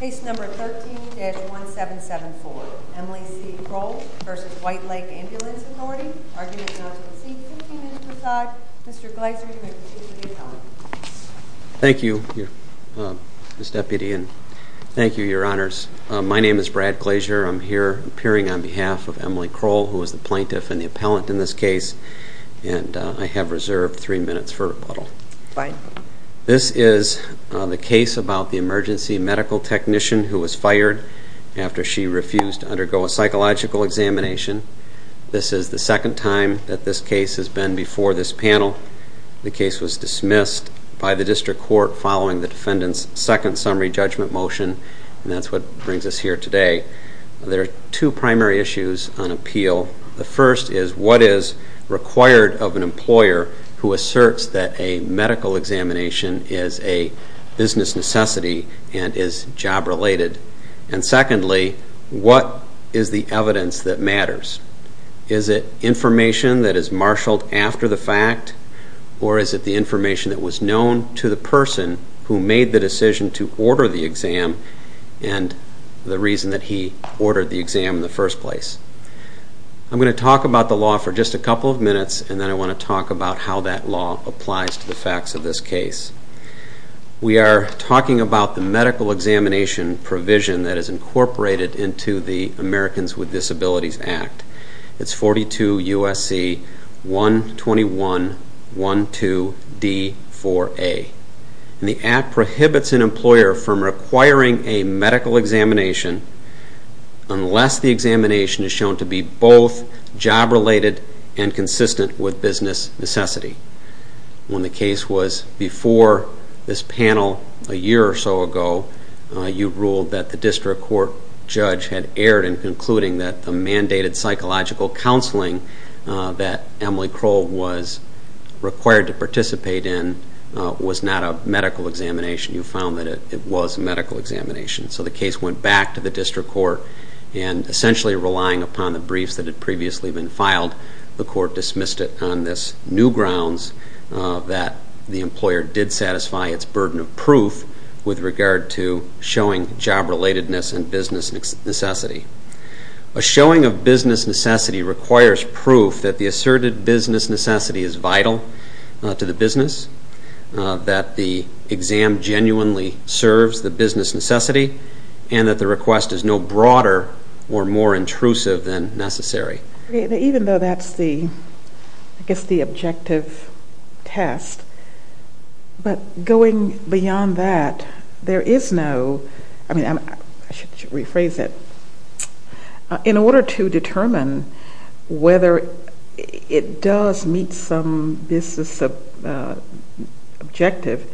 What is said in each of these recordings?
Case number 13-1774. Emily C. Kroll v. White Lake Ambulance Authority. Arguments not conceded. 15 minutes per side. Mr. Glazier, you may proceed to the appellant. Thank you, Ms. Deputy, and thank you, Your Honors. My name is Brad Glazier. I'm here appearing on behalf of Emily Kroll, who is the plaintiff and the appellant in this case, and I have reserved three minutes for rebuttal. This is the case about the emergency medical technician who was fired after she refused to undergo a psychological examination. This is the second time that this case has been before this panel. The case was dismissed by the district court following the defendant's second summary judgment motion, and that's what brings us here today. There are two primary issues on appeal. The first is what is required of an employer who asserts that a medical examination is a business necessity and is job-related. And secondly, what is the evidence that matters? Is it information that is marshaled after the fact, or is it the information that was known to the person who made the decision to order the exam and the reason that he ordered the exam in the first place? I'm going to talk about the law for just a couple of minutes, and then I want to talk about how that law applies to the facts of this case. We are talking about the medical examination provision that is incorporated into the Americans with Disabilities Act. It's 42 U.S.C. 121.12d.4a. The Act prohibits an employer from requiring a medical examination unless the examination is shown to be both job-related and consistent with business necessity. When the case was before this panel a year or so ago, you ruled that the district court judge had erred in concluding that the mandated psychological counseling that Emily Crowell was required to participate in was not a medical examination. You found that it was a medical examination. So the case went back to the district court, and essentially relying upon the briefs that had previously been filed, the court dismissed it on this new grounds that the employer did satisfy its burden of proof with regard to showing job-relatedness and business necessity. A showing of business necessity requires proof that the asserted business necessity is vital to the business, that the exam genuinely serves the business necessity, and that the request is no broader or more intrusive than necessary. Even though that's the objective test, but going beyond that, there is no, I mean, I should rephrase it. In order to determine whether it does meet some business objective,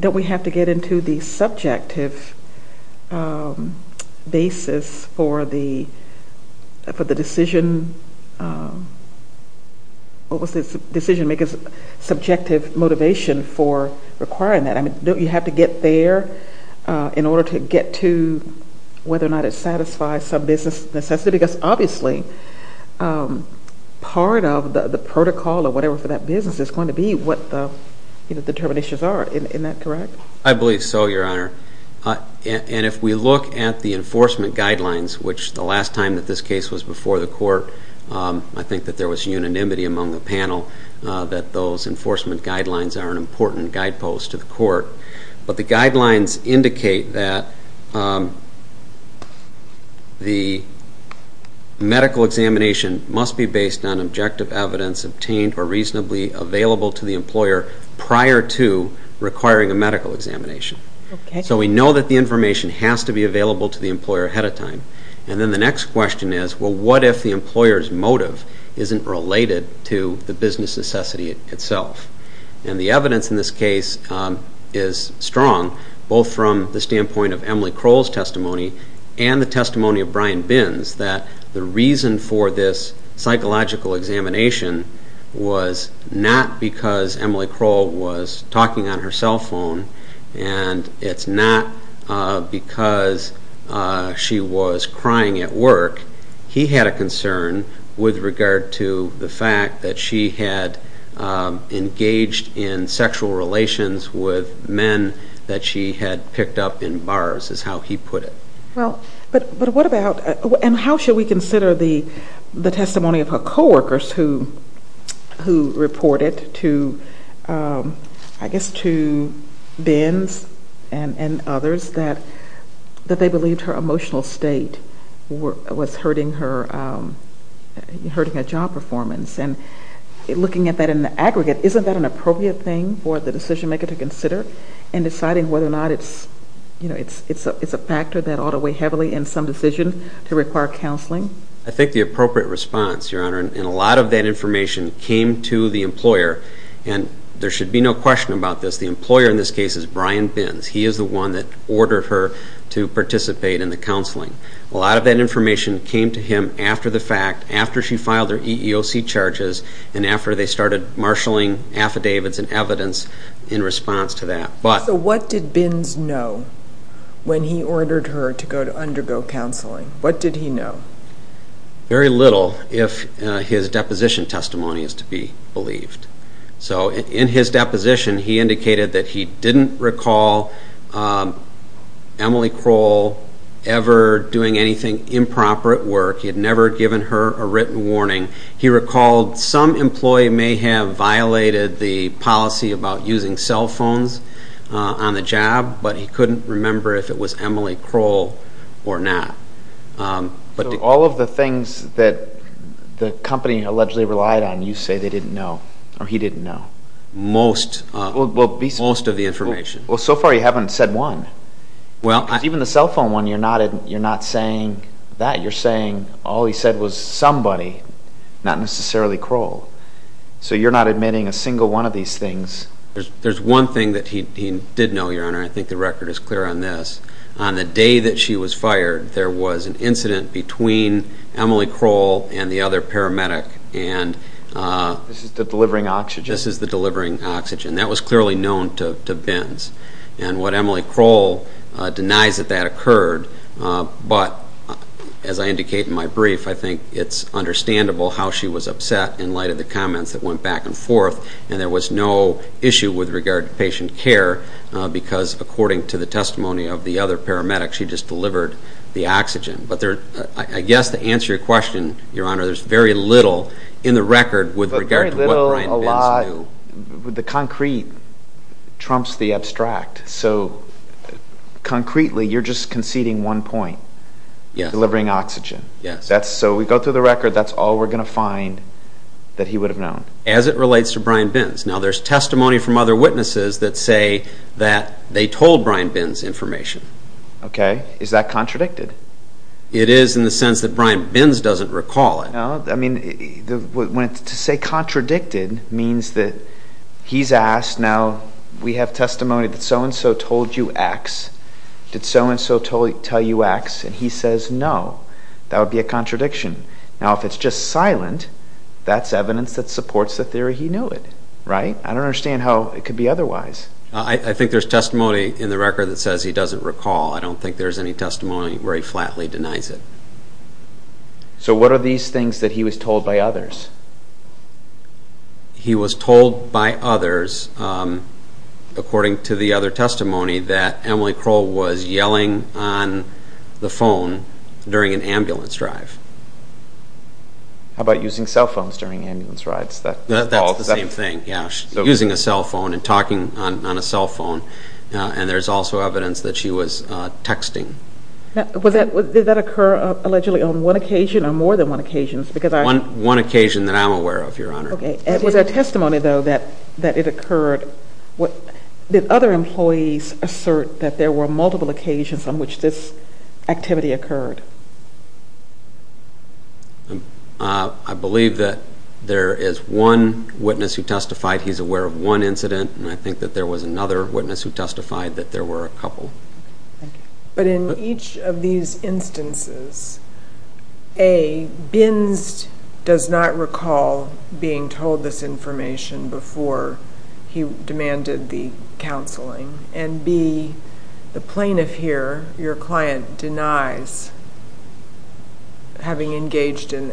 don't we have to get into the subjective basis for the decision, what was the decision maker's subjective motivation for requiring that? I mean, don't you have to get there in order to get to whether or not it satisfies some business necessity? Because obviously part of the protocol or whatever for that business is going to be what the determinations are. Isn't that correct? I believe so, Your Honor. And if we look at the enforcement guidelines, which the last time that this case was before the court, I think that there was unanimity among the panel that those enforcement guidelines are an important guidepost to the court. But the guidelines indicate that the medical examination must be based on objective evidence obtained or reasonably available to the employer prior to requiring a medical examination. So we know that the information has to be available to the employer ahead of time. And then the next question is, well, what if the employer's motive isn't related to the business necessity itself? And the evidence in this case is strong, both from the standpoint of Emily Crowell's testimony and the testimony of Brian Binns, that the reason for this psychological examination was not because Emily Crowell was talking on her cell phone and it's not because she was crying at work. He had a concern with regard to the fact that she had engaged in sexual relations with men that she had picked up in bars, is how he put it. Well, but what about and how should we consider the testimony of her coworkers who reported to, I guess to Binns and others that they believed her emotional state was hurting her job performance. And looking at that in the aggregate, isn't that an appropriate thing for the decision maker to consider and deciding whether or not it's a factor that ought to weigh heavily in some decision to require counseling? I think the appropriate response, Your Honor, and a lot of that information came to the employer and there should be no question about this, the employer in this case is Brian Binns. He is the one that ordered her to participate in the counseling. A lot of that information came to him after the fact, after she filed her EEOC charges and after they started marshaling affidavits and evidence in response to that. So what did Binns know when he ordered her to undergo counseling? What did he know? Very little if his deposition testimony is to be believed. So in his deposition, he indicated that he didn't recall Emily Crowell ever doing anything improper at work. He had never given her a written warning. He recalled some employee may have violated the policy about using cell phones on the job, but he couldn't remember if it was Emily Crowell or not. So all of the things that the company allegedly relied on, you say they didn't know or he didn't know? Most of the information. Well, so far you haven't said one. Even the cell phone one, you're not saying that. You're saying all he said was somebody, not necessarily Crowell. So you're not admitting a single one of these things? There's one thing that he did know, Your Honor, and I think the record is clear on this. On the day that she was fired, there was an incident between Emily Crowell and the other paramedic. This is the delivering oxygen? This is the delivering oxygen. That was clearly known to Binns. And what Emily Crowell denies that that occurred, but as I indicate in my brief, I think it's understandable how she was upset in light of the comments that went back and forth, and there was no issue with regard to patient care because, according to the testimony of the other paramedic, she just delivered the oxygen. But I guess to answer your question, Your Honor, there's very little in the record with regard to what Brian Binns knew. The concrete trumps the abstract. So concretely, you're just conceding one point, delivering oxygen. Yes. So we go through the record, that's all we're going to find that he would have known. As it relates to Brian Binns. Now, there's testimony from other witnesses that say that they told Brian Binns information. Okay. Is that contradicted? It is in the sense that Brian Binns doesn't recall it. No, I mean, to say contradicted means that he's asked, now we have testimony that so-and-so told you X. Did so-and-so tell you X? And he says no. That would be a contradiction. Now, if it's just silent, that's evidence that supports the theory he knew it, right? I don't understand how it could be otherwise. I think there's testimony in the record that says he doesn't recall. I don't think there's any testimony where he flatly denies it. So what are these things that he was told by others? He was told by others, according to the other testimony, that Emily Kroll was yelling on the phone during an ambulance drive. How about using cell phones during ambulance rides? That's the same thing, yeah. Using a cell phone and talking on a cell phone. And there's also evidence that she was texting. Did that occur, allegedly, on one occasion or more than one occasion? One occasion that I'm aware of, Your Honor. Was there testimony, though, that it occurred? Did other employees assert that there were multiple occasions on which this activity occurred? I believe that there is one witness who testified he's aware of one incident, and I think that there was another witness who testified that there were a couple. But in each of these instances, A, Binns does not recall being told this information before he demanded the counseling, and B, the plaintiff here, your client, denies having engaged in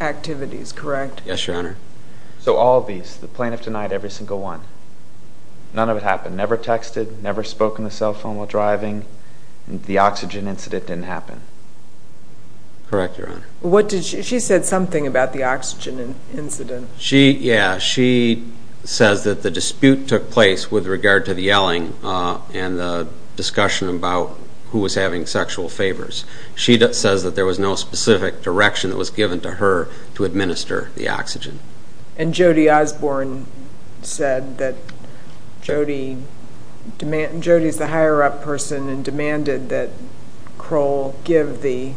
activities, correct? Yes, Your Honor. So all of these, the plaintiff denied every single one. None of it happened. Never texted, never spoke on the cell phone while driving. The oxygen incident didn't happen. Correct, Your Honor. She said something about the oxygen incident. Yeah, she says that the dispute took place with regard to the yelling and the discussion about who was having sexual favors. She says that there was no specific direction that was given to her to administer the oxygen. And Jody Osborne said that Jody is the higher-up person and demanded that Kroll give the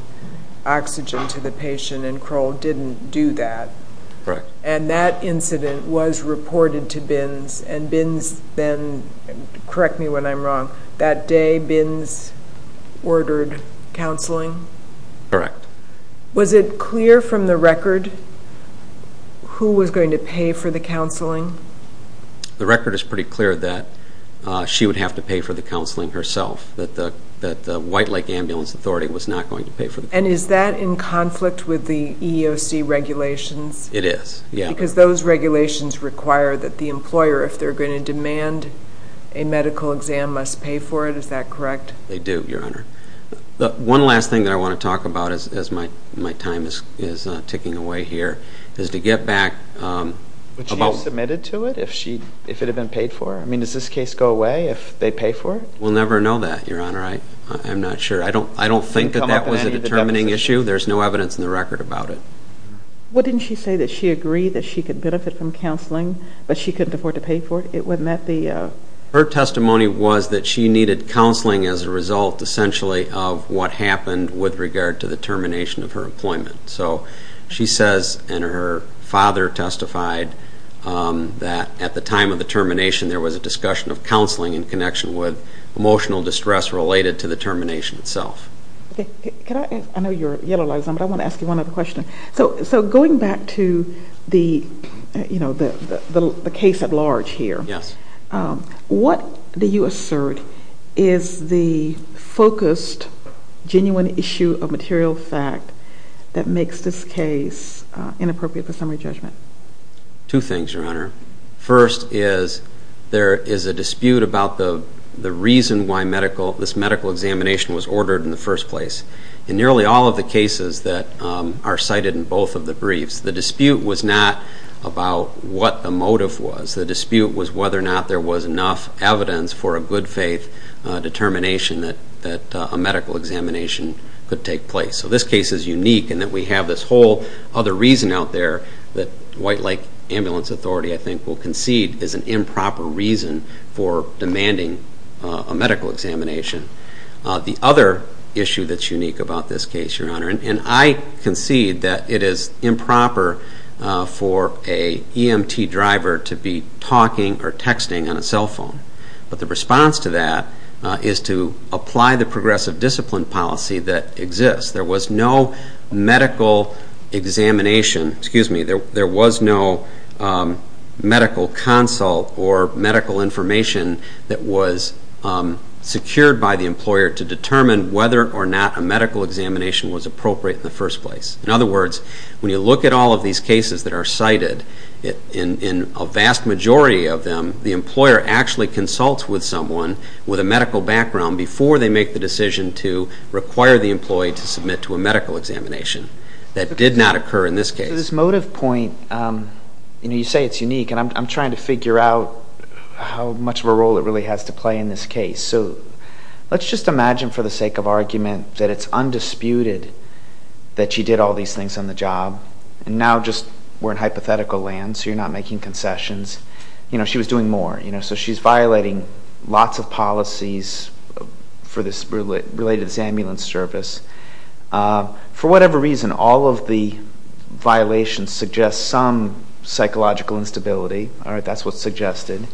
oxygen to the patient, and Kroll didn't do that. Correct. And that incident was reported to Binns, and Binns then, correct me when I'm wrong, that day Binns ordered counseling? Correct. Was it clear from the record who was going to pay for the counseling? The record is pretty clear that she would have to pay for the counseling herself, that the White Lake Ambulance Authority was not going to pay for the counseling. And is that in conflict with the EEOC regulations? It is, yeah. Because those regulations require that the employer, if they're going to demand a medical exam, must pay for it. Is that correct? They do, Your Honor. One last thing that I want to talk about as my time is ticking away here is to get back about- Would she have submitted to it if it had been paid for? I mean, does this case go away if they pay for it? We'll never know that, Your Honor. I'm not sure. I don't think that that was a determining issue. There's no evidence in the record about it. Well, didn't she say that she agreed that she could benefit from counseling, but she couldn't afford to pay for it? Her testimony was that she needed counseling as a result, essentially, of what happened with regard to the termination of her employment. So she says, and her father testified, that at the time of the termination, there was a discussion of counseling in connection with emotional distress related to the termination itself. Okay. I know your yellow light is on, but I want to ask you one other question. So going back to the case at large here, what do you assert is the focused, genuine issue of material fact that makes this case inappropriate for summary judgment? Two things, Your Honor. First is there is a dispute about the reason why this medical examination was ordered in the first place. In nearly all of the cases that are cited in both of the briefs, the dispute was not about what the motive was. The dispute was whether or not there was enough evidence for a good faith determination that a medical examination could take place. So this case is unique in that we have this whole other reason out there that White Lake Ambulance Authority, I think, will concede is an improper reason for demanding a medical examination. The other issue that's unique about this case, Your Honor, and I concede that it is improper for an EMT driver to be talking or texting on a cell phone, but the response to that is to apply the progressive discipline policy that exists. There was no medical examination, excuse me, there was no medical consult or medical information that was secured by the employer to determine whether or not a medical examination was appropriate in the first place. In other words, when you look at all of these cases that are cited, in a vast majority of them, the employer actually consults with someone with a medical background before they make the decision to require the employee to submit to a medical examination. That did not occur in this case. So this motive point, you say it's unique, and I'm trying to figure out how much of a role it really has to play in this case. So let's just imagine, for the sake of argument, that it's undisputed that she did all these things on the job, and now just we're in hypothetical land, so you're not making concessions. You know, she was doing more. So she's violating lots of policies related to this ambulance service. For whatever reason, all of the violations suggest some psychological instability. All right, that's what's suggested.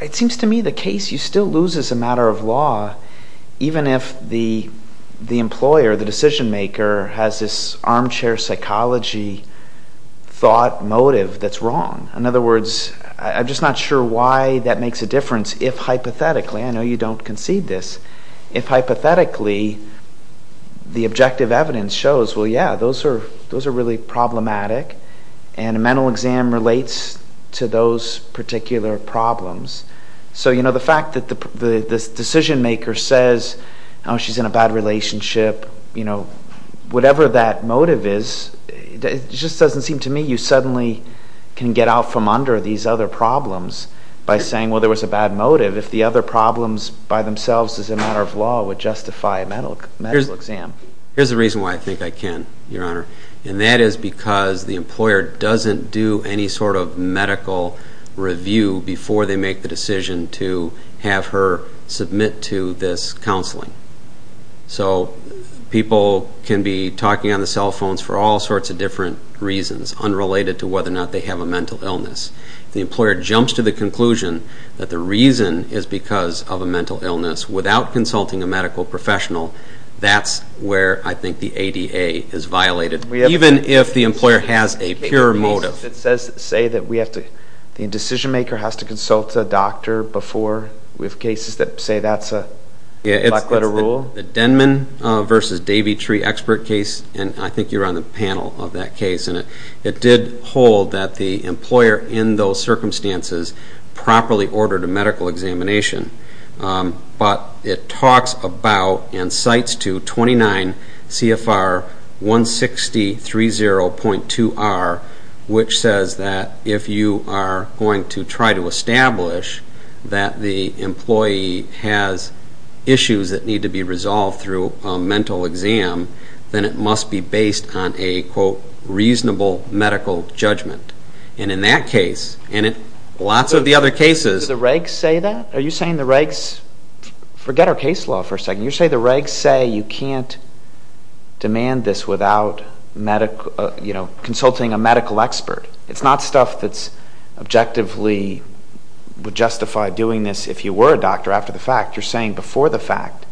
It seems to me the case, you still lose as a matter of law, even if the employer, the decision maker, has this armchair psychology thought motive that's wrong. In other words, I'm just not sure why that makes a difference if hypothetically, I know you don't concede this, if hypothetically the objective evidence shows, well, yeah, those are really problematic, and a mental exam relates to those particular problems. So, you know, the fact that the decision maker says, oh, she's in a bad relationship, you know, whatever that motive is, it just doesn't seem to me you suddenly can get out from under these other problems by saying, well, there was a bad motive. If the other problems by themselves as a matter of law would justify a mental exam. Here's the reason why I think I can, Your Honor, and that is because the employer doesn't do any sort of medical review before they make the decision to have her submit to this counseling. So people can be talking on the cell phones for all sorts of different reasons unrelated to whether or not they have a mental illness. If the employer jumps to the conclusion that the reason is because of a mental illness without consulting a medical professional, that's where I think the ADA is violated, even if the employer has a pure motive. It says that the decision maker has to consult a doctor before. We have cases that say that's a black-letter rule. The Denman v. Davy Tree expert case, and I think you were on the panel of that case, and it did hold that the employer in those circumstances properly ordered a medical examination. But it talks about and cites to 29 CFR 160.30.2R, which says that if you are going to try to establish that the employee has issues that need to be resolved through a mental exam, then it must be based on a, quote, reasonable medical judgment. And in that case, and in lots of the other cases. Do the regs say that? Are you saying the regs? Forget our case law for a second. You're saying the regs say you can't demand this without consulting a medical expert. It's not stuff that's objectively would justify doing this if you were a doctor after the fact. You're saying before the fact.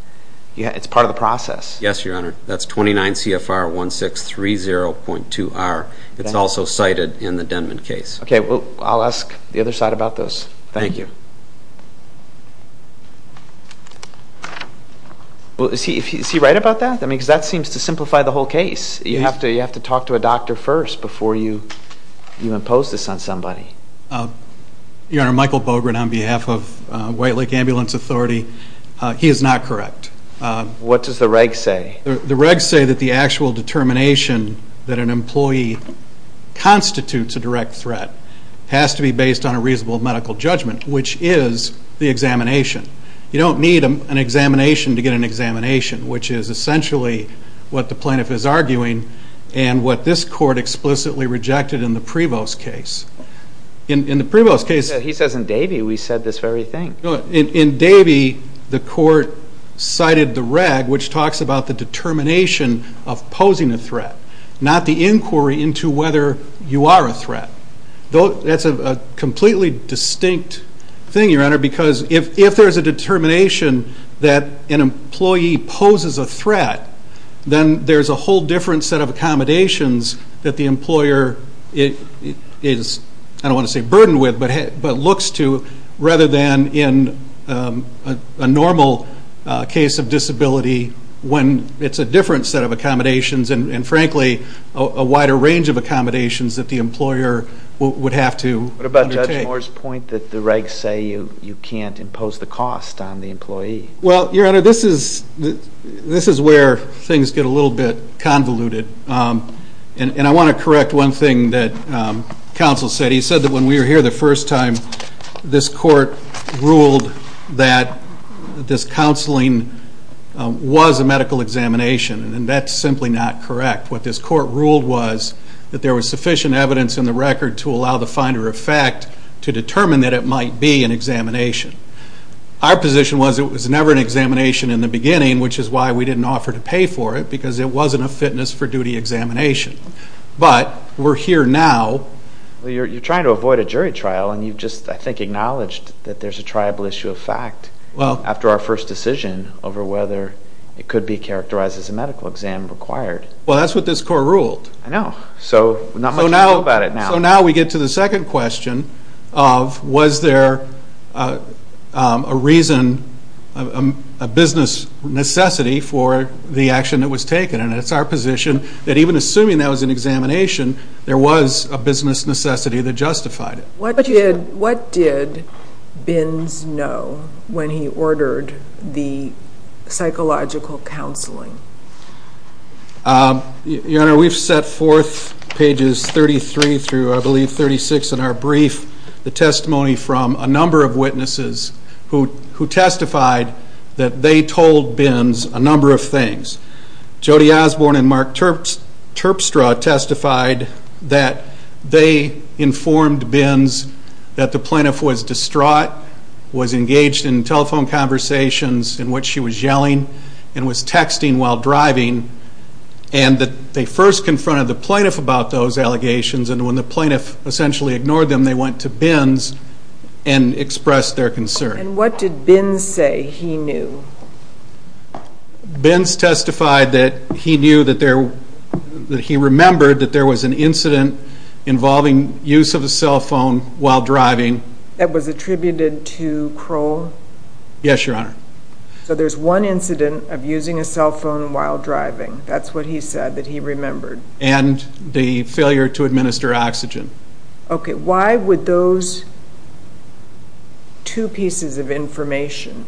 It's part of the process. Yes, Your Honor. That's 29 CFR 160.30.2R. It's also cited in the Denman case. Okay. Well, I'll ask the other side about this. Thank you. Is he right about that? I mean, because that seems to simplify the whole case. You have to talk to a doctor first before you impose this on somebody. Your Honor, Michael Bogren on behalf of White Lake Ambulance Authority. He is not correct. What does the regs say? The regs say that the actual determination that an employee constitutes a direct threat has to be based on a reasonable medical judgment, which is the examination. You don't need an examination to get an examination, which is essentially what the plaintiff is arguing and what this court explicitly rejected in the Prevost case. In the Prevost case. He says in Davey we said this very thing. In Davey, the court cited the reg, which talks about the determination of posing a threat, not the inquiry into whether you are a threat. That's a completely distinct thing, Your Honor, because if there's a determination that an employee poses a threat, then there's a whole different set of accommodations that the employer is, I don't want to say burdened with, but looks to rather than in a normal case of disability when it's a different set of accommodations and frankly a wider range of accommodations that the employer would have to undertake. What about Judge Moore's point that the regs say you can't impose the cost on the employee? Well, Your Honor, this is where things get a little bit convoluted. And I want to correct one thing that counsel said. He said that when we were here the first time, this court ruled that this counseling was a medical examination, and that's simply not correct. What this court ruled was that there was sufficient evidence in the record to allow the finder of fact to determine that it might be an examination. Our position was it was never an examination in the beginning, which is why we didn't offer to pay for it, because it wasn't a fitness for duty examination. But we're here now. Well, you're trying to avoid a jury trial, and you've just, I think, acknowledged that there's a triable issue of fact after our first decision over whether it could be characterized as a medical exam required. Well, that's what this court ruled. I know. So not much to do about it now. So now we get to the second question of was there a reason, a business necessity, for the action that was taken. And it's our position that even assuming that was an examination, there was a business necessity that justified it. What did Bins know when he ordered the psychological counseling? Your Honor, we've set forth pages 33 through, I believe, 36 in our brief, the testimony from a number of witnesses who testified that they told Bins a number of things. Jody Osborne and Mark Terpstra testified that they informed Bins that the plaintiff was distraught, was engaged in telephone conversations in which she was yelling, and was texting while driving, and that they first confronted the plaintiff about those allegations, and when the plaintiff essentially ignored them, they went to Bins and expressed their concern. And what did Bins say he knew? Bins testified that he knew that there, that he remembered that there was an incident involving use of a cell phone while driving. That was attributed to Crowell? Yes, Your Honor. So there's one incident of using a cell phone while driving. That's what he said that he remembered. And the failure to administer oxygen. Okay. Why would those two pieces of information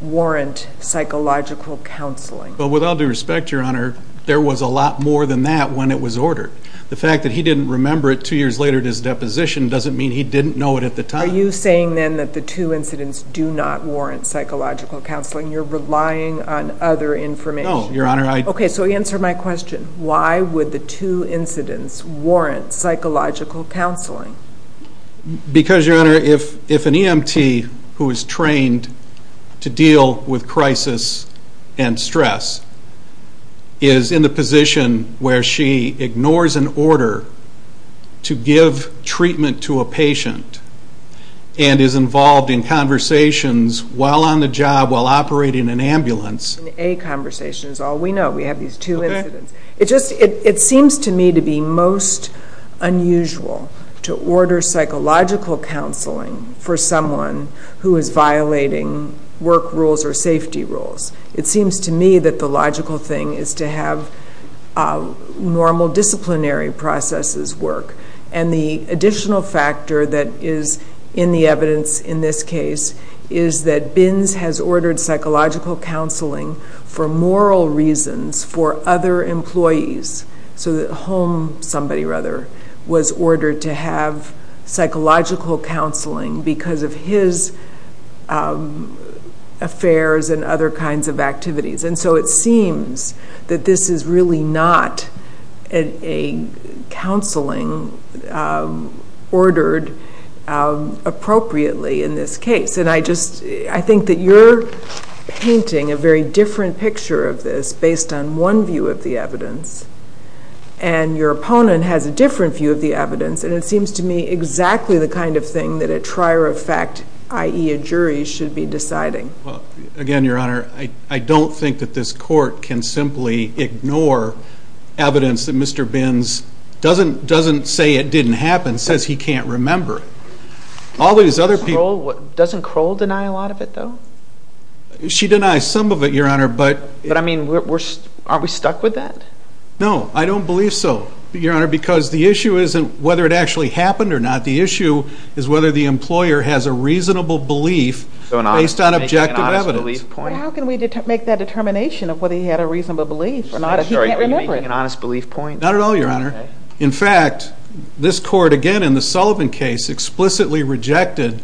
warrant psychological counseling? Well, with all due respect, Your Honor, there was a lot more than that when it was ordered. The fact that he didn't remember it two years later at his deposition doesn't mean he didn't know it at the time. Are you saying then that the two incidents do not warrant psychological counseling? You're relying on other information. No, Your Honor. Okay, so answer my question. Why would the two incidents warrant psychological counseling? Because, Your Honor, if an EMT who is trained to deal with crisis and stress is in the position where she ignores an order to give treatment to a patient and is involved in conversations while on the job while operating an ambulance. A conversation is all we know. We have these two incidents. It seems to me to be most unusual to order psychological counseling for someone who is violating work rules or safety rules. It seems to me that the logical thing is to have normal disciplinary processes work. And the additional factor that is in the evidence in this case is that Bins has ordered psychological counseling for moral reasons for other employees so that Holm, somebody rather, was ordered to have psychological counseling because of his affairs and other kinds of activities. And so it seems that this is really not a counseling ordered appropriately in this case. And I think that you're painting a very different picture of this based on one view of the evidence. And your opponent has a different view of the evidence. And it seems to me exactly the kind of thing that a trier of fact, i.e. a jury, should be deciding. Again, Your Honor, I don't think that this court can simply ignore evidence that Mr. Bins doesn't say it didn't happen, says he can't remember it. Doesn't Kroll deny a lot of it, though? She denies some of it, Your Honor. But, I mean, aren't we stuck with that? No, I don't believe so, Your Honor, because the issue isn't whether it actually happened or not. The issue is whether the employer has a reasonable belief based on objective evidence. But how can we make that determination of whether he had a reasonable belief or not if he can't remember it? I'm sorry, are you making an honest belief point? Not at all, Your Honor. In fact, this court, again, in the Sullivan case, explicitly rejected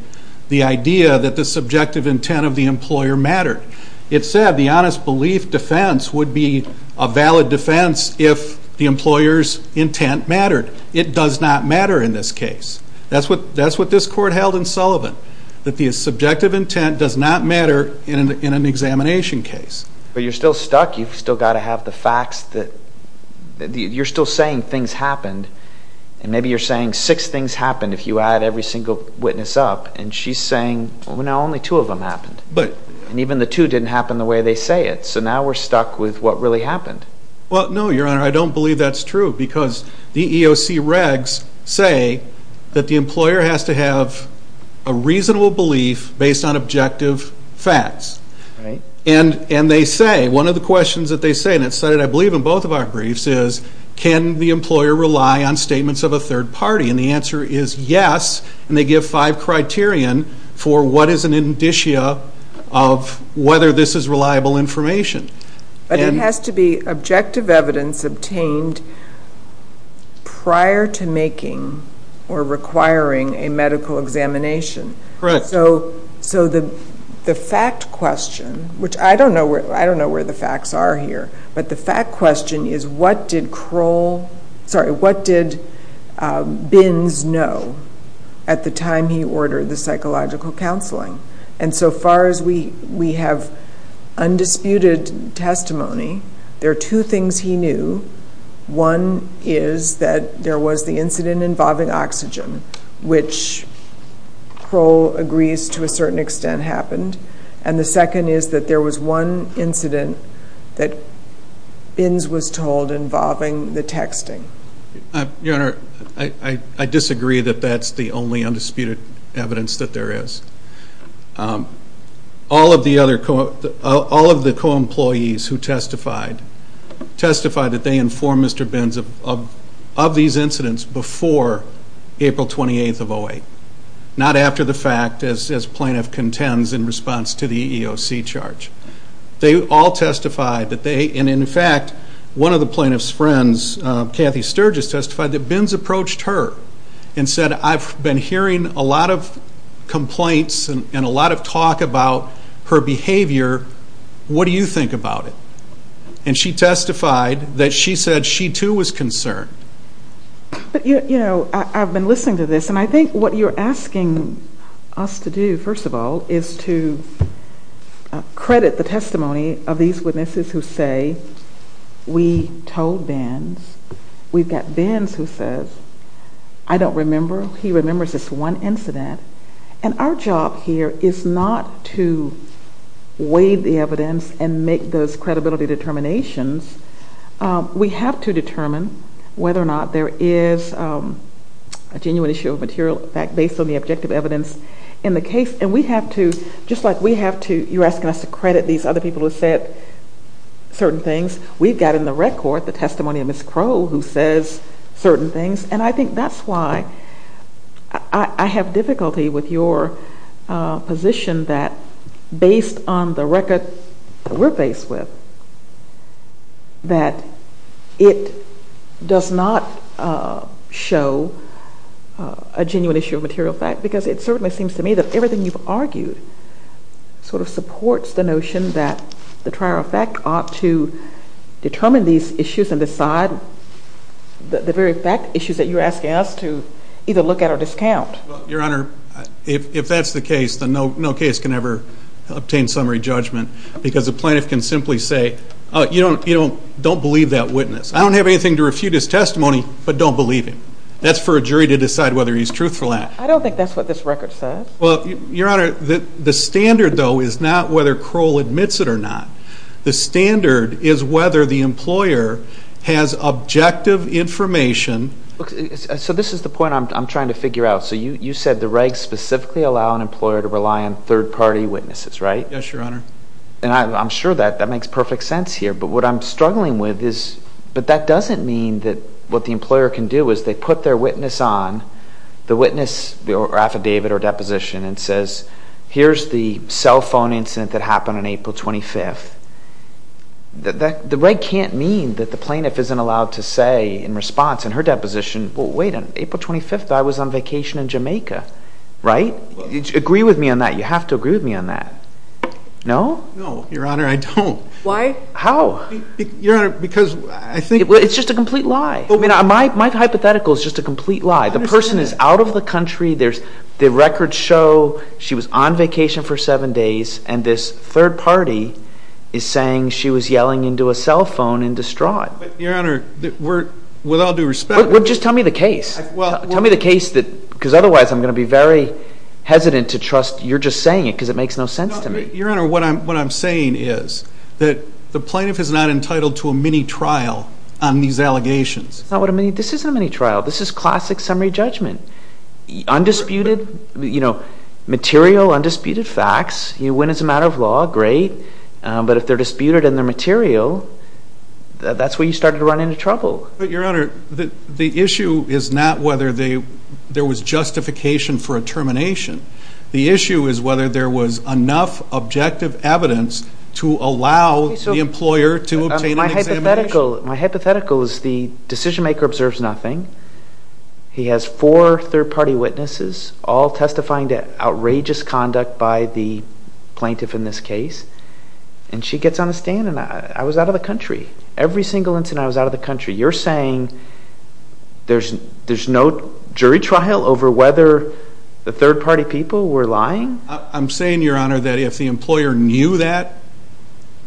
the idea that the subjective intent of the employer mattered. It said the honest belief defense would be a valid defense if the employer's intent mattered. It does not matter in this case. That's what this court held in Sullivan, that the subjective intent does not matter in an examination case. But you're still stuck. You've still got to have the facts that you're still saying things happened. And maybe you're saying six things happened if you add every single witness up. And she's saying, well, no, only two of them happened. And even the two didn't happen the way they say it. So now we're stuck with what really happened. Well, no, Your Honor, I don't believe that's true because the EEOC regs say that the employer has to have a reasonable belief based on objective facts. And they say, one of the questions that they say, and it's cited, I believe, in both of our briefs, is can the employer rely on statements of a third party? And the answer is yes. And they give five criterion for what is an indicia of whether this is reliable information. But it has to be objective evidence obtained prior to making or requiring a medical examination. Correct. So the fact question, which I don't know where the facts are here, but the fact question is what did Bins know at the time he ordered the psychological counseling? And so far as we have undisputed testimony, there are two things he knew. One is that there was the incident involving oxygen, which Kroll agrees to a certain extent happened. And the second is that there was one incident that Bins was told involving the texting. Your Honor, I disagree that that's the only undisputed evidence that there is. All of the co-employees who testified, testified that they informed Mr. Bins of these incidents before April 28th of 08. Not after the fact as plaintiff contends in response to the EEOC charge. They all testified that they, and in fact, one of the plaintiff's friends, Kathy Sturgis, testified that Bins approached her and said, I've been hearing a lot of complaints and a lot of talk about her behavior. What do you think about it? And she testified that she said she too was concerned. But, you know, I've been listening to this, and I think what you're asking us to do, first of all, is to credit the testimony of these witnesses who say we told Bins. We've got Bins who says, I don't remember. He remembers this one incident. And our job here is not to weigh the evidence and make those credibility determinations. We have to determine whether or not there is a genuine issue of material fact based on the objective evidence in the case. And we have to, just like we have to, you're asking us to credit these other people who said certain things. We've got in the record the testimony of Ms. Crow who says certain things. And I think that's why I have difficulty with your position that based on the record we're faced with, that it does not show a genuine issue of material fact, because it certainly seems to me that everything you've argued sort of supports the notion that the trial effect ought to determine these issues and decide the very fact issues that you're asking us to either look at or discount. Well, Your Honor, if that's the case, then no case can ever obtain summary judgment, because a plaintiff can simply say, you don't believe that witness. I don't have anything to refute his testimony, but don't believe him. That's for a jury to decide whether he's truthful or not. I don't think that's what this record says. Well, Your Honor, the standard, though, is not whether Crow admits it or not. The standard is whether the employer has objective information. So this is the point I'm trying to figure out. So you said the regs specifically allow an employer to rely on third-party witnesses, right? Yes, Your Honor. And I'm sure that makes perfect sense here. But what I'm struggling with is, but that doesn't mean that what the employer can do is they put their witness on, the witness or affidavit or deposition, and says, here's the cell phone incident that happened on April 25th. The reg can't mean that the plaintiff isn't allowed to say in response in her deposition, well, wait, on April 25th I was on vacation in Jamaica, right? Agree with me on that. You have to agree with me on that. No? No, Your Honor, I don't. Why? How? Your Honor, because I think... It's just a complete lie. My hypothetical is just a complete lie. The person is out of the country, the records show she was on vacation for seven days, and this third party is saying she was yelling into a cell phone in distraught. Your Honor, with all due respect... Just tell me the case. Tell me the case, because otherwise I'm going to be very hesitant to trust you're just saying it because it makes no sense to me. Your Honor, what I'm saying is that the plaintiff is not entitled to a mini-trial on these allegations. This isn't a mini-trial. This is classic summary judgment. Undisputed, you know, material undisputed facts. You win as a matter of law, great. But if they're disputed and they're material, that's where you start to run into trouble. But, Your Honor, the issue is not whether there was justification for a termination. The issue is whether there was enough objective evidence to allow the employer to obtain an examination. My hypothetical is the decision maker observes nothing. He has four third party witnesses all testifying to outrageous conduct by the plaintiff in this case, and she gets on the stand, and I was out of the country. Every single incident, I was out of the country. You're saying there's no jury trial over whether the third party people were lying? I'm saying, Your Honor, that if the employer knew that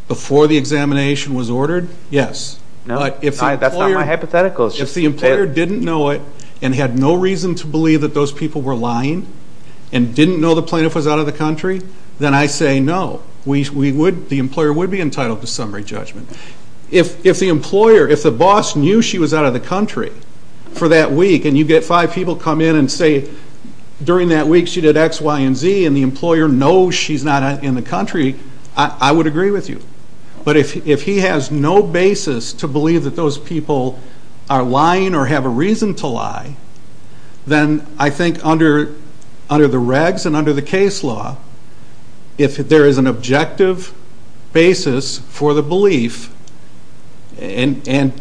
before the examination was ordered, yes. No, that's not my hypothetical. If the employer didn't know it and had no reason to believe that those people were lying and didn't know the plaintiff was out of the country, then I say no. The employer would be entitled to summary judgment. If the employer, if the boss knew she was out of the country for that week and you get five people come in and say during that week she did X, Y, and Z, and the employer knows she's not in the country, I would agree with you. But if he has no basis to believe that those people are lying or have a reason to lie, then I think under the regs and under the case law, if there is an objective basis for the belief and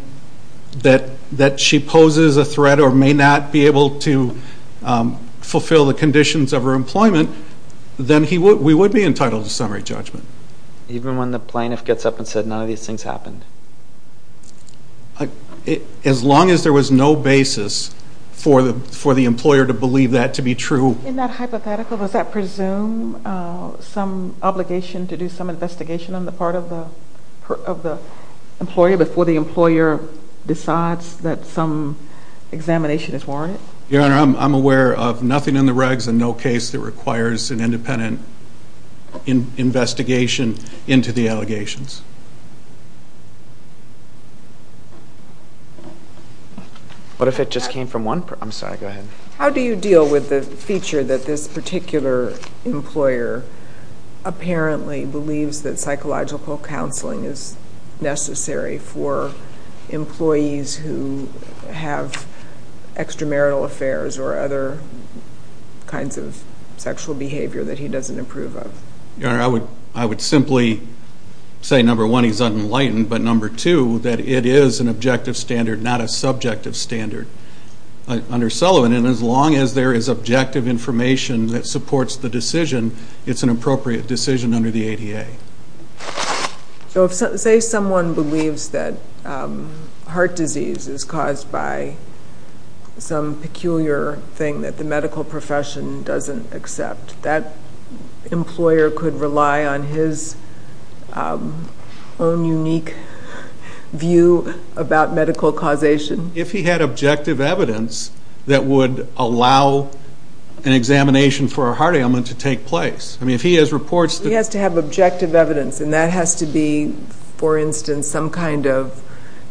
that she poses a threat or may not be able to fulfill the conditions of her employment, then we would be entitled to summary judgment. Even when the plaintiff gets up and says none of these things happened? As long as there was no basis for the employer to believe that to be true. In that hypothetical, does that presume some obligation to do some investigation on the part of the employer before the employer decides that some examination is warranted? Your Honor, I'm aware of nothing in the regs and no case that requires an independent investigation into the allegations. What if it just came from one person? I'm sorry, go ahead. How do you deal with the feature that this particular employer apparently believes that psychological counseling is necessary for employees who have extramarital affairs or other kinds of sexual behavior that he doesn't approve of? Your Honor, I would simply say, number one, he's unenlightened, but number two, that it is an objective standard, not a subjective standard. Under Sullivan, as long as there is objective information that supports the decision, it's an appropriate decision under the ADA. Say someone believes that heart disease is caused by some peculiar thing that the medical profession doesn't accept. That employer could rely on his own unique view about medical causation? If he had objective evidence that would allow an examination for a heart ailment to take place. He has to have objective evidence, and that has to be, for instance, some kind of,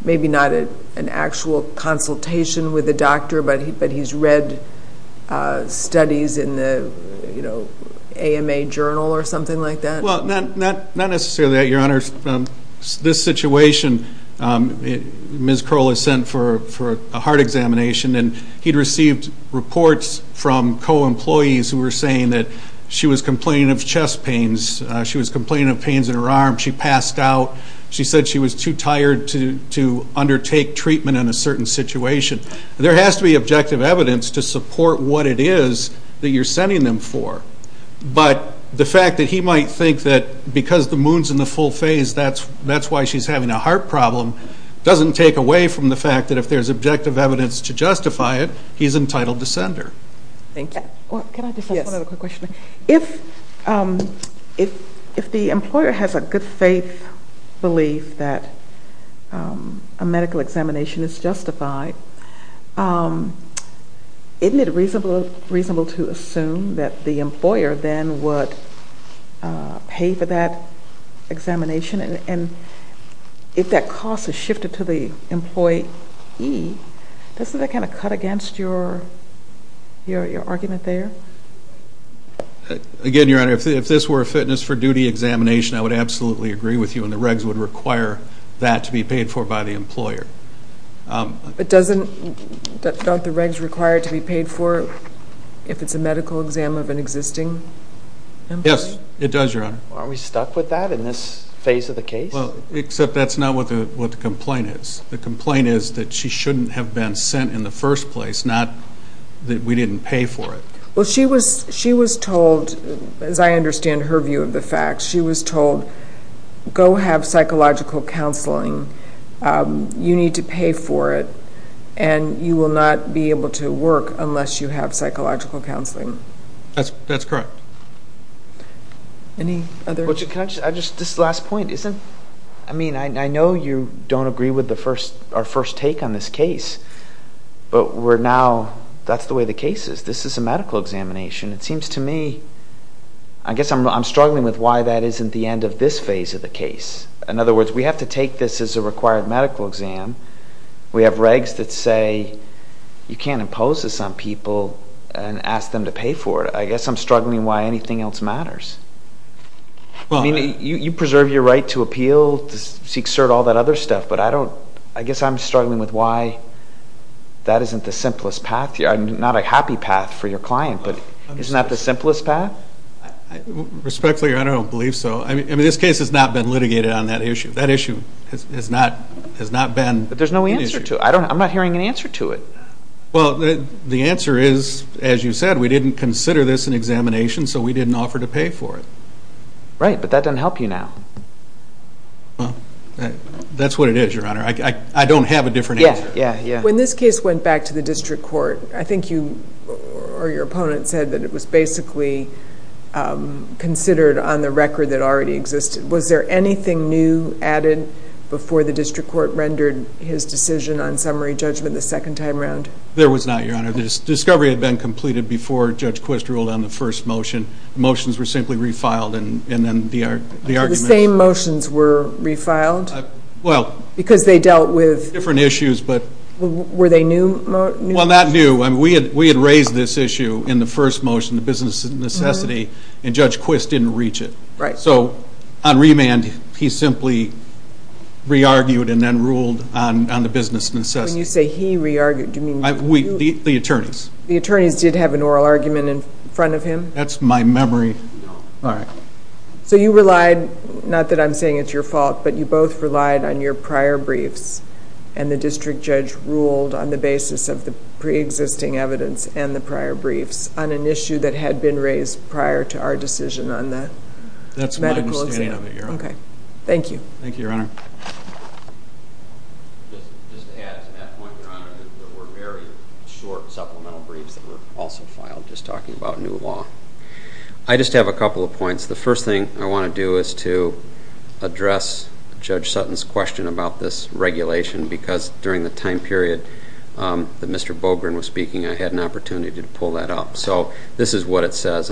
maybe not an actual consultation with a doctor, but he's read studies in the AMA journal or something like that? Not necessarily that, Your Honor. This situation, Ms. Kroll is sent for a heart examination, and he'd received reports from co-employees who were saying that she was complaining of chest pains. She was complaining of pains in her arm. She passed out. She said she was too tired to undertake treatment in a certain situation. There has to be objective evidence to support what it is that you're sending them for. But the fact that he might think that because the moon's in the full phase, that's why she's having a heart problem doesn't take away from the fact that if there's objective evidence to justify it, he's entitled to send her. Thank you. Can I just ask one other quick question? Yes. If the employer has a good faith belief that a medical examination is justified, isn't it reasonable to assume that the employer then would pay for that examination? And if that cost is shifted to the employee, doesn't that kind of cut against your argument there? Again, Your Honor, if this were a fitness for duty examination, I would absolutely agree with you, and the regs would require that to be paid for by the employer. But don't the regs require it to be paid for if it's a medical exam of an existing employee? Yes, it does, Your Honor. Aren't we stuck with that in this phase of the case? Except that's not what the complaint is. The complaint is that she shouldn't have been sent in the first place, not that we didn't pay for it. Well, she was told, as I understand her view of the facts, she was told, go have psychological counseling. You need to pay for it, and you will not be able to work unless you have psychological counseling. That's correct. Any other? Can I just, this is the last point. I mean, I know you don't agree with our first take on this case, but we're now, that's the way the case is. This is a medical examination. It seems to me, I guess I'm struggling with why that isn't the end of this phase of the case. In other words, we have to take this as a required medical exam. We have regs that say you can't impose this on people and ask them to pay for it. I guess I'm struggling why anything else matters. I mean, you preserve your right to appeal, to seek cert, all that other stuff, but I don't, I guess I'm struggling with why that isn't the simplest path. I'm not a happy path for your client, but isn't that the simplest path? Respectfully, Your Honor, I don't believe so. I mean, this case has not been litigated on that issue. That issue has not been an issue. But there's no answer to it. I'm not hearing an answer to it. Well, the answer is, as you said, we didn't consider this an examination, so we didn't offer to pay for it. Right, but that doesn't help you now. That's what it is, Your Honor. I don't have a different answer. When this case went back to the district court, I think you or your opponent said that it was basically considered on the record that it already existed. Was there anything new added before the district court rendered his decision on summary judgment the second time around? There was not, Your Honor. The discovery had been completed before Judge Quist ruled on the first motion. The motions were simply refiled and then the argument. So the same motions were refiled? Well. Because they dealt with? Different issues. Were they new motions? Well, not new. We had raised this issue in the first motion, the business necessity, and Judge Quist didn't reach it. So on remand, he simply re-argued and then ruled on the business necessity. When you say he re-argued, do you mean? The attorneys. The attorneys did have an oral argument in front of him? That's my memory. No. All right. So you relied, not that I'm saying it's your fault, but you both relied on your prior briefs and the district judge ruled on the basis of the pre-existing evidence and the prior briefs on an issue that had been raised prior to our decision on the medical exam. That's my understanding of it, Your Honor. Okay. Thank you. Thank you, Your Honor. Just to add to that point, Your Honor, there were very short supplemental briefs that were also filed just talking about new law. I just have a couple of points. The first thing I want to do is to address Judge Sutton's question about this regulation because during the time period that Mr. Bogren was speaking, I had an opportunity to pull that up. So this is what it says.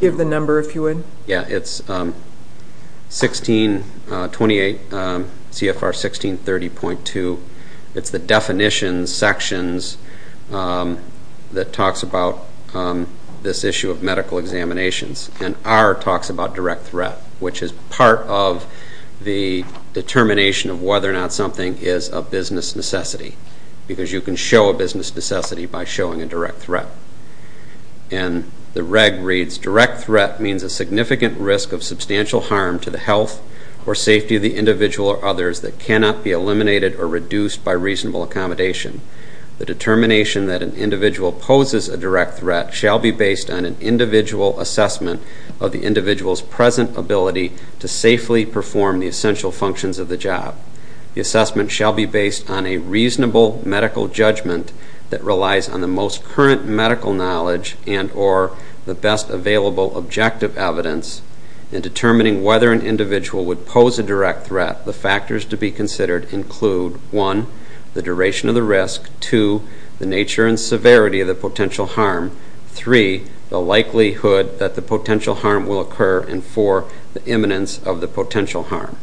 Give the number, if you would. Yeah. It's 1628 CFR 1630.2. It's the definitions sections that talks about this issue of medical examinations. And R talks about direct threat, which is part of the determination of whether or not something is a business necessity because you can show a business necessity by showing a direct threat. And the reg reads, direct threat means a significant risk of substantial harm to the health or safety of the individual or others that cannot be eliminated or reduced by reasonable accommodation. The determination that an individual poses a direct threat shall be based on an individual assessment of the individual's present ability to safely perform the essential functions of the job. The assessment shall be based on a reasonable medical judgment that relies on the most current medical knowledge and or the best available objective evidence in determining whether an individual would pose a direct threat. The factors to be considered include, one, the duration of the risk, two, the nature and severity of the potential harm, three, the likelihood that the potential harm will occur, and four, the imminence of the potential harm.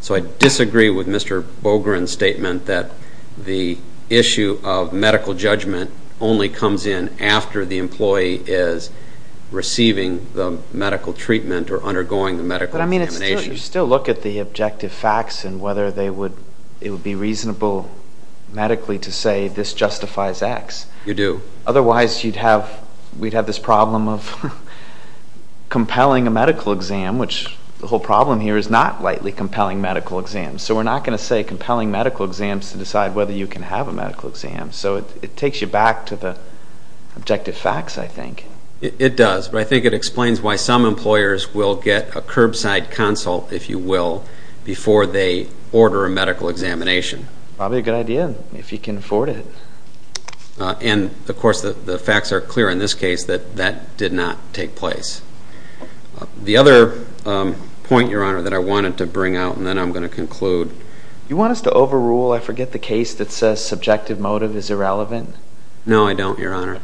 So I disagree with Mr. Bogren's statement that the issue of medical judgment only comes in after the employee is receiving the medical treatment or undergoing the medical examination. But, I mean, you still look at the objective facts and whether it would be reasonable medically to say this justifies X. You do. Otherwise, we'd have this problem of compelling a medical exam, which the whole problem here is not lightly compelling medical exams. So we're not going to say compelling medical exams to decide whether you can have a medical exam. So it takes you back to the objective facts, I think. It does, but I think it explains why some employers will get a curbside consult, if you will, before they order a medical examination. Probably a good idea if you can afford it. And, of course, the facts are clear in this case that that did not take place. The other point, Your Honor, that I wanted to bring out, and then I'm going to conclude. You want us to overrule, I forget, the case that says subjective motive is irrelevant? No, I don't, Your Honor.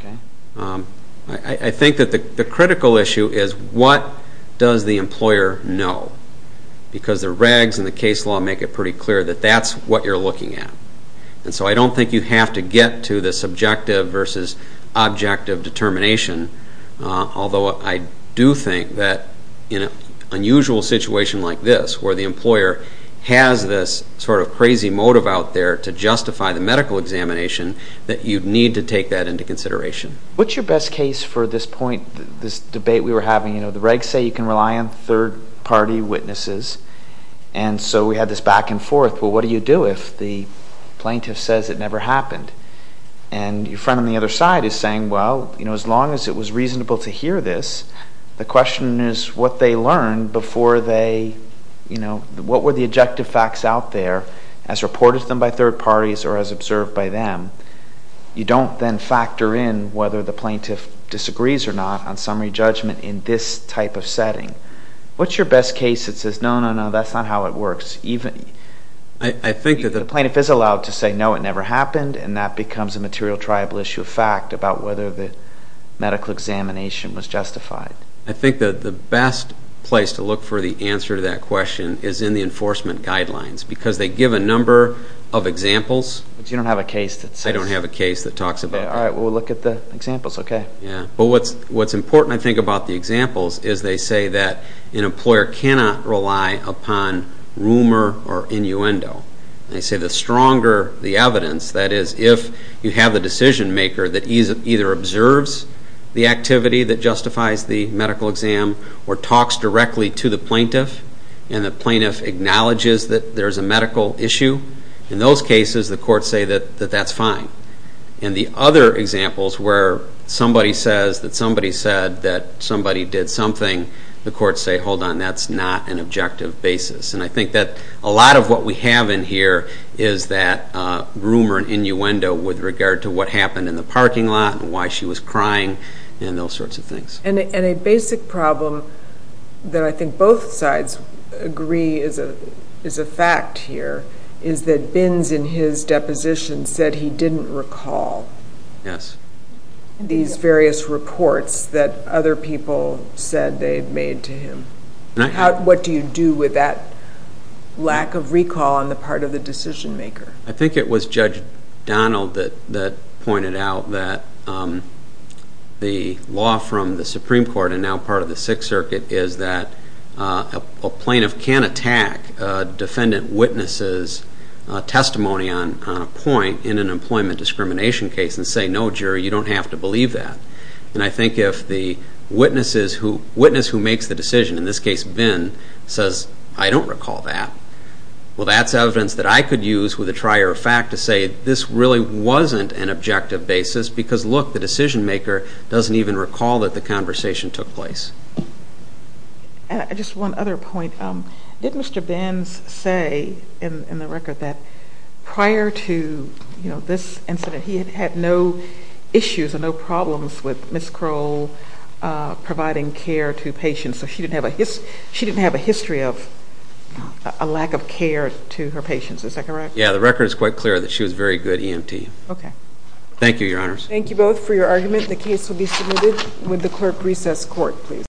I think that the critical issue is what does the employer know? Because the regs and the case law make it pretty clear that that's what you're looking at. And so I don't think you have to get to the subjective versus objective determination, although I do think that in an unusual situation like this, where the employer has this sort of crazy motive out there to justify the medical examination, that you need to take that into consideration. What's your best case for this point, this debate we were having? You know, the regs say you can rely on third-party witnesses, and so we had this back and forth. Well, what do you do if the plaintiff says it never happened? And your friend on the other side is saying, well, you know, as long as it was reasonable to hear this, the question is what they learned before they, you know, what were the objective facts out there as reported to them by third parties or as observed by them? You don't then factor in whether the plaintiff disagrees or not on summary judgment in this type of setting. What's your best case that says, no, no, no, that's not how it works? I think that the plaintiff is allowed to say, no, it never happened, and that becomes a material triable issue of fact about whether the medical examination was justified. I think that the best place to look for the answer to that question is in the enforcement guidelines because they give a number of examples. But you don't have a case that says. I don't have a case that talks about that. All right. Well, we'll look at the examples, okay? Yeah. But what's important, I think, about the examples is they say that an employer cannot rely upon rumor or innuendo. They say the stronger the evidence, that is, if you have the decision maker that either observes the activity that justifies the medical exam or talks directly to the plaintiff and the plaintiff acknowledges that there's a medical issue, in those cases the courts say that that's fine. And the other examples where somebody says that somebody said that somebody did something, the courts say, hold on, that's not an objective basis. And I think that a lot of what we have in here is that rumor and innuendo with regard to what happened in the parking lot and why she was crying and those sorts of things. And a basic problem that I think both sides agree is a fact here is that Bins in his deposition said he didn't recall these various reports that other people said they had made to him. What do you do with that lack of recall on the part of the decision maker? I think it was Judge Donald that pointed out that the law from the Supreme Court and now part of the Sixth Circuit is that a plaintiff can attack a defendant witness's testimony on a point in an employment discrimination case and say, no, jury, you don't have to believe that. And I think if the witness who makes the decision, in this case Bin, says, I don't recall that, well, that's evidence that I could use with a trier of fact to say this really wasn't an objective basis because, look, the decision maker doesn't even recall that the conversation took place. Just one other point. Did Mr. Bins say in the record that prior to this incident he had had no issues or no problems with Ms. Kroll providing care to patients? So she didn't have a history of a lack of care to her patients, is that correct? Yeah, the record is quite clear that she was very good EMT. Okay. Thank you, Your Honors. Thank you both for your argument. The case will be submitted with the clerk recess court, please.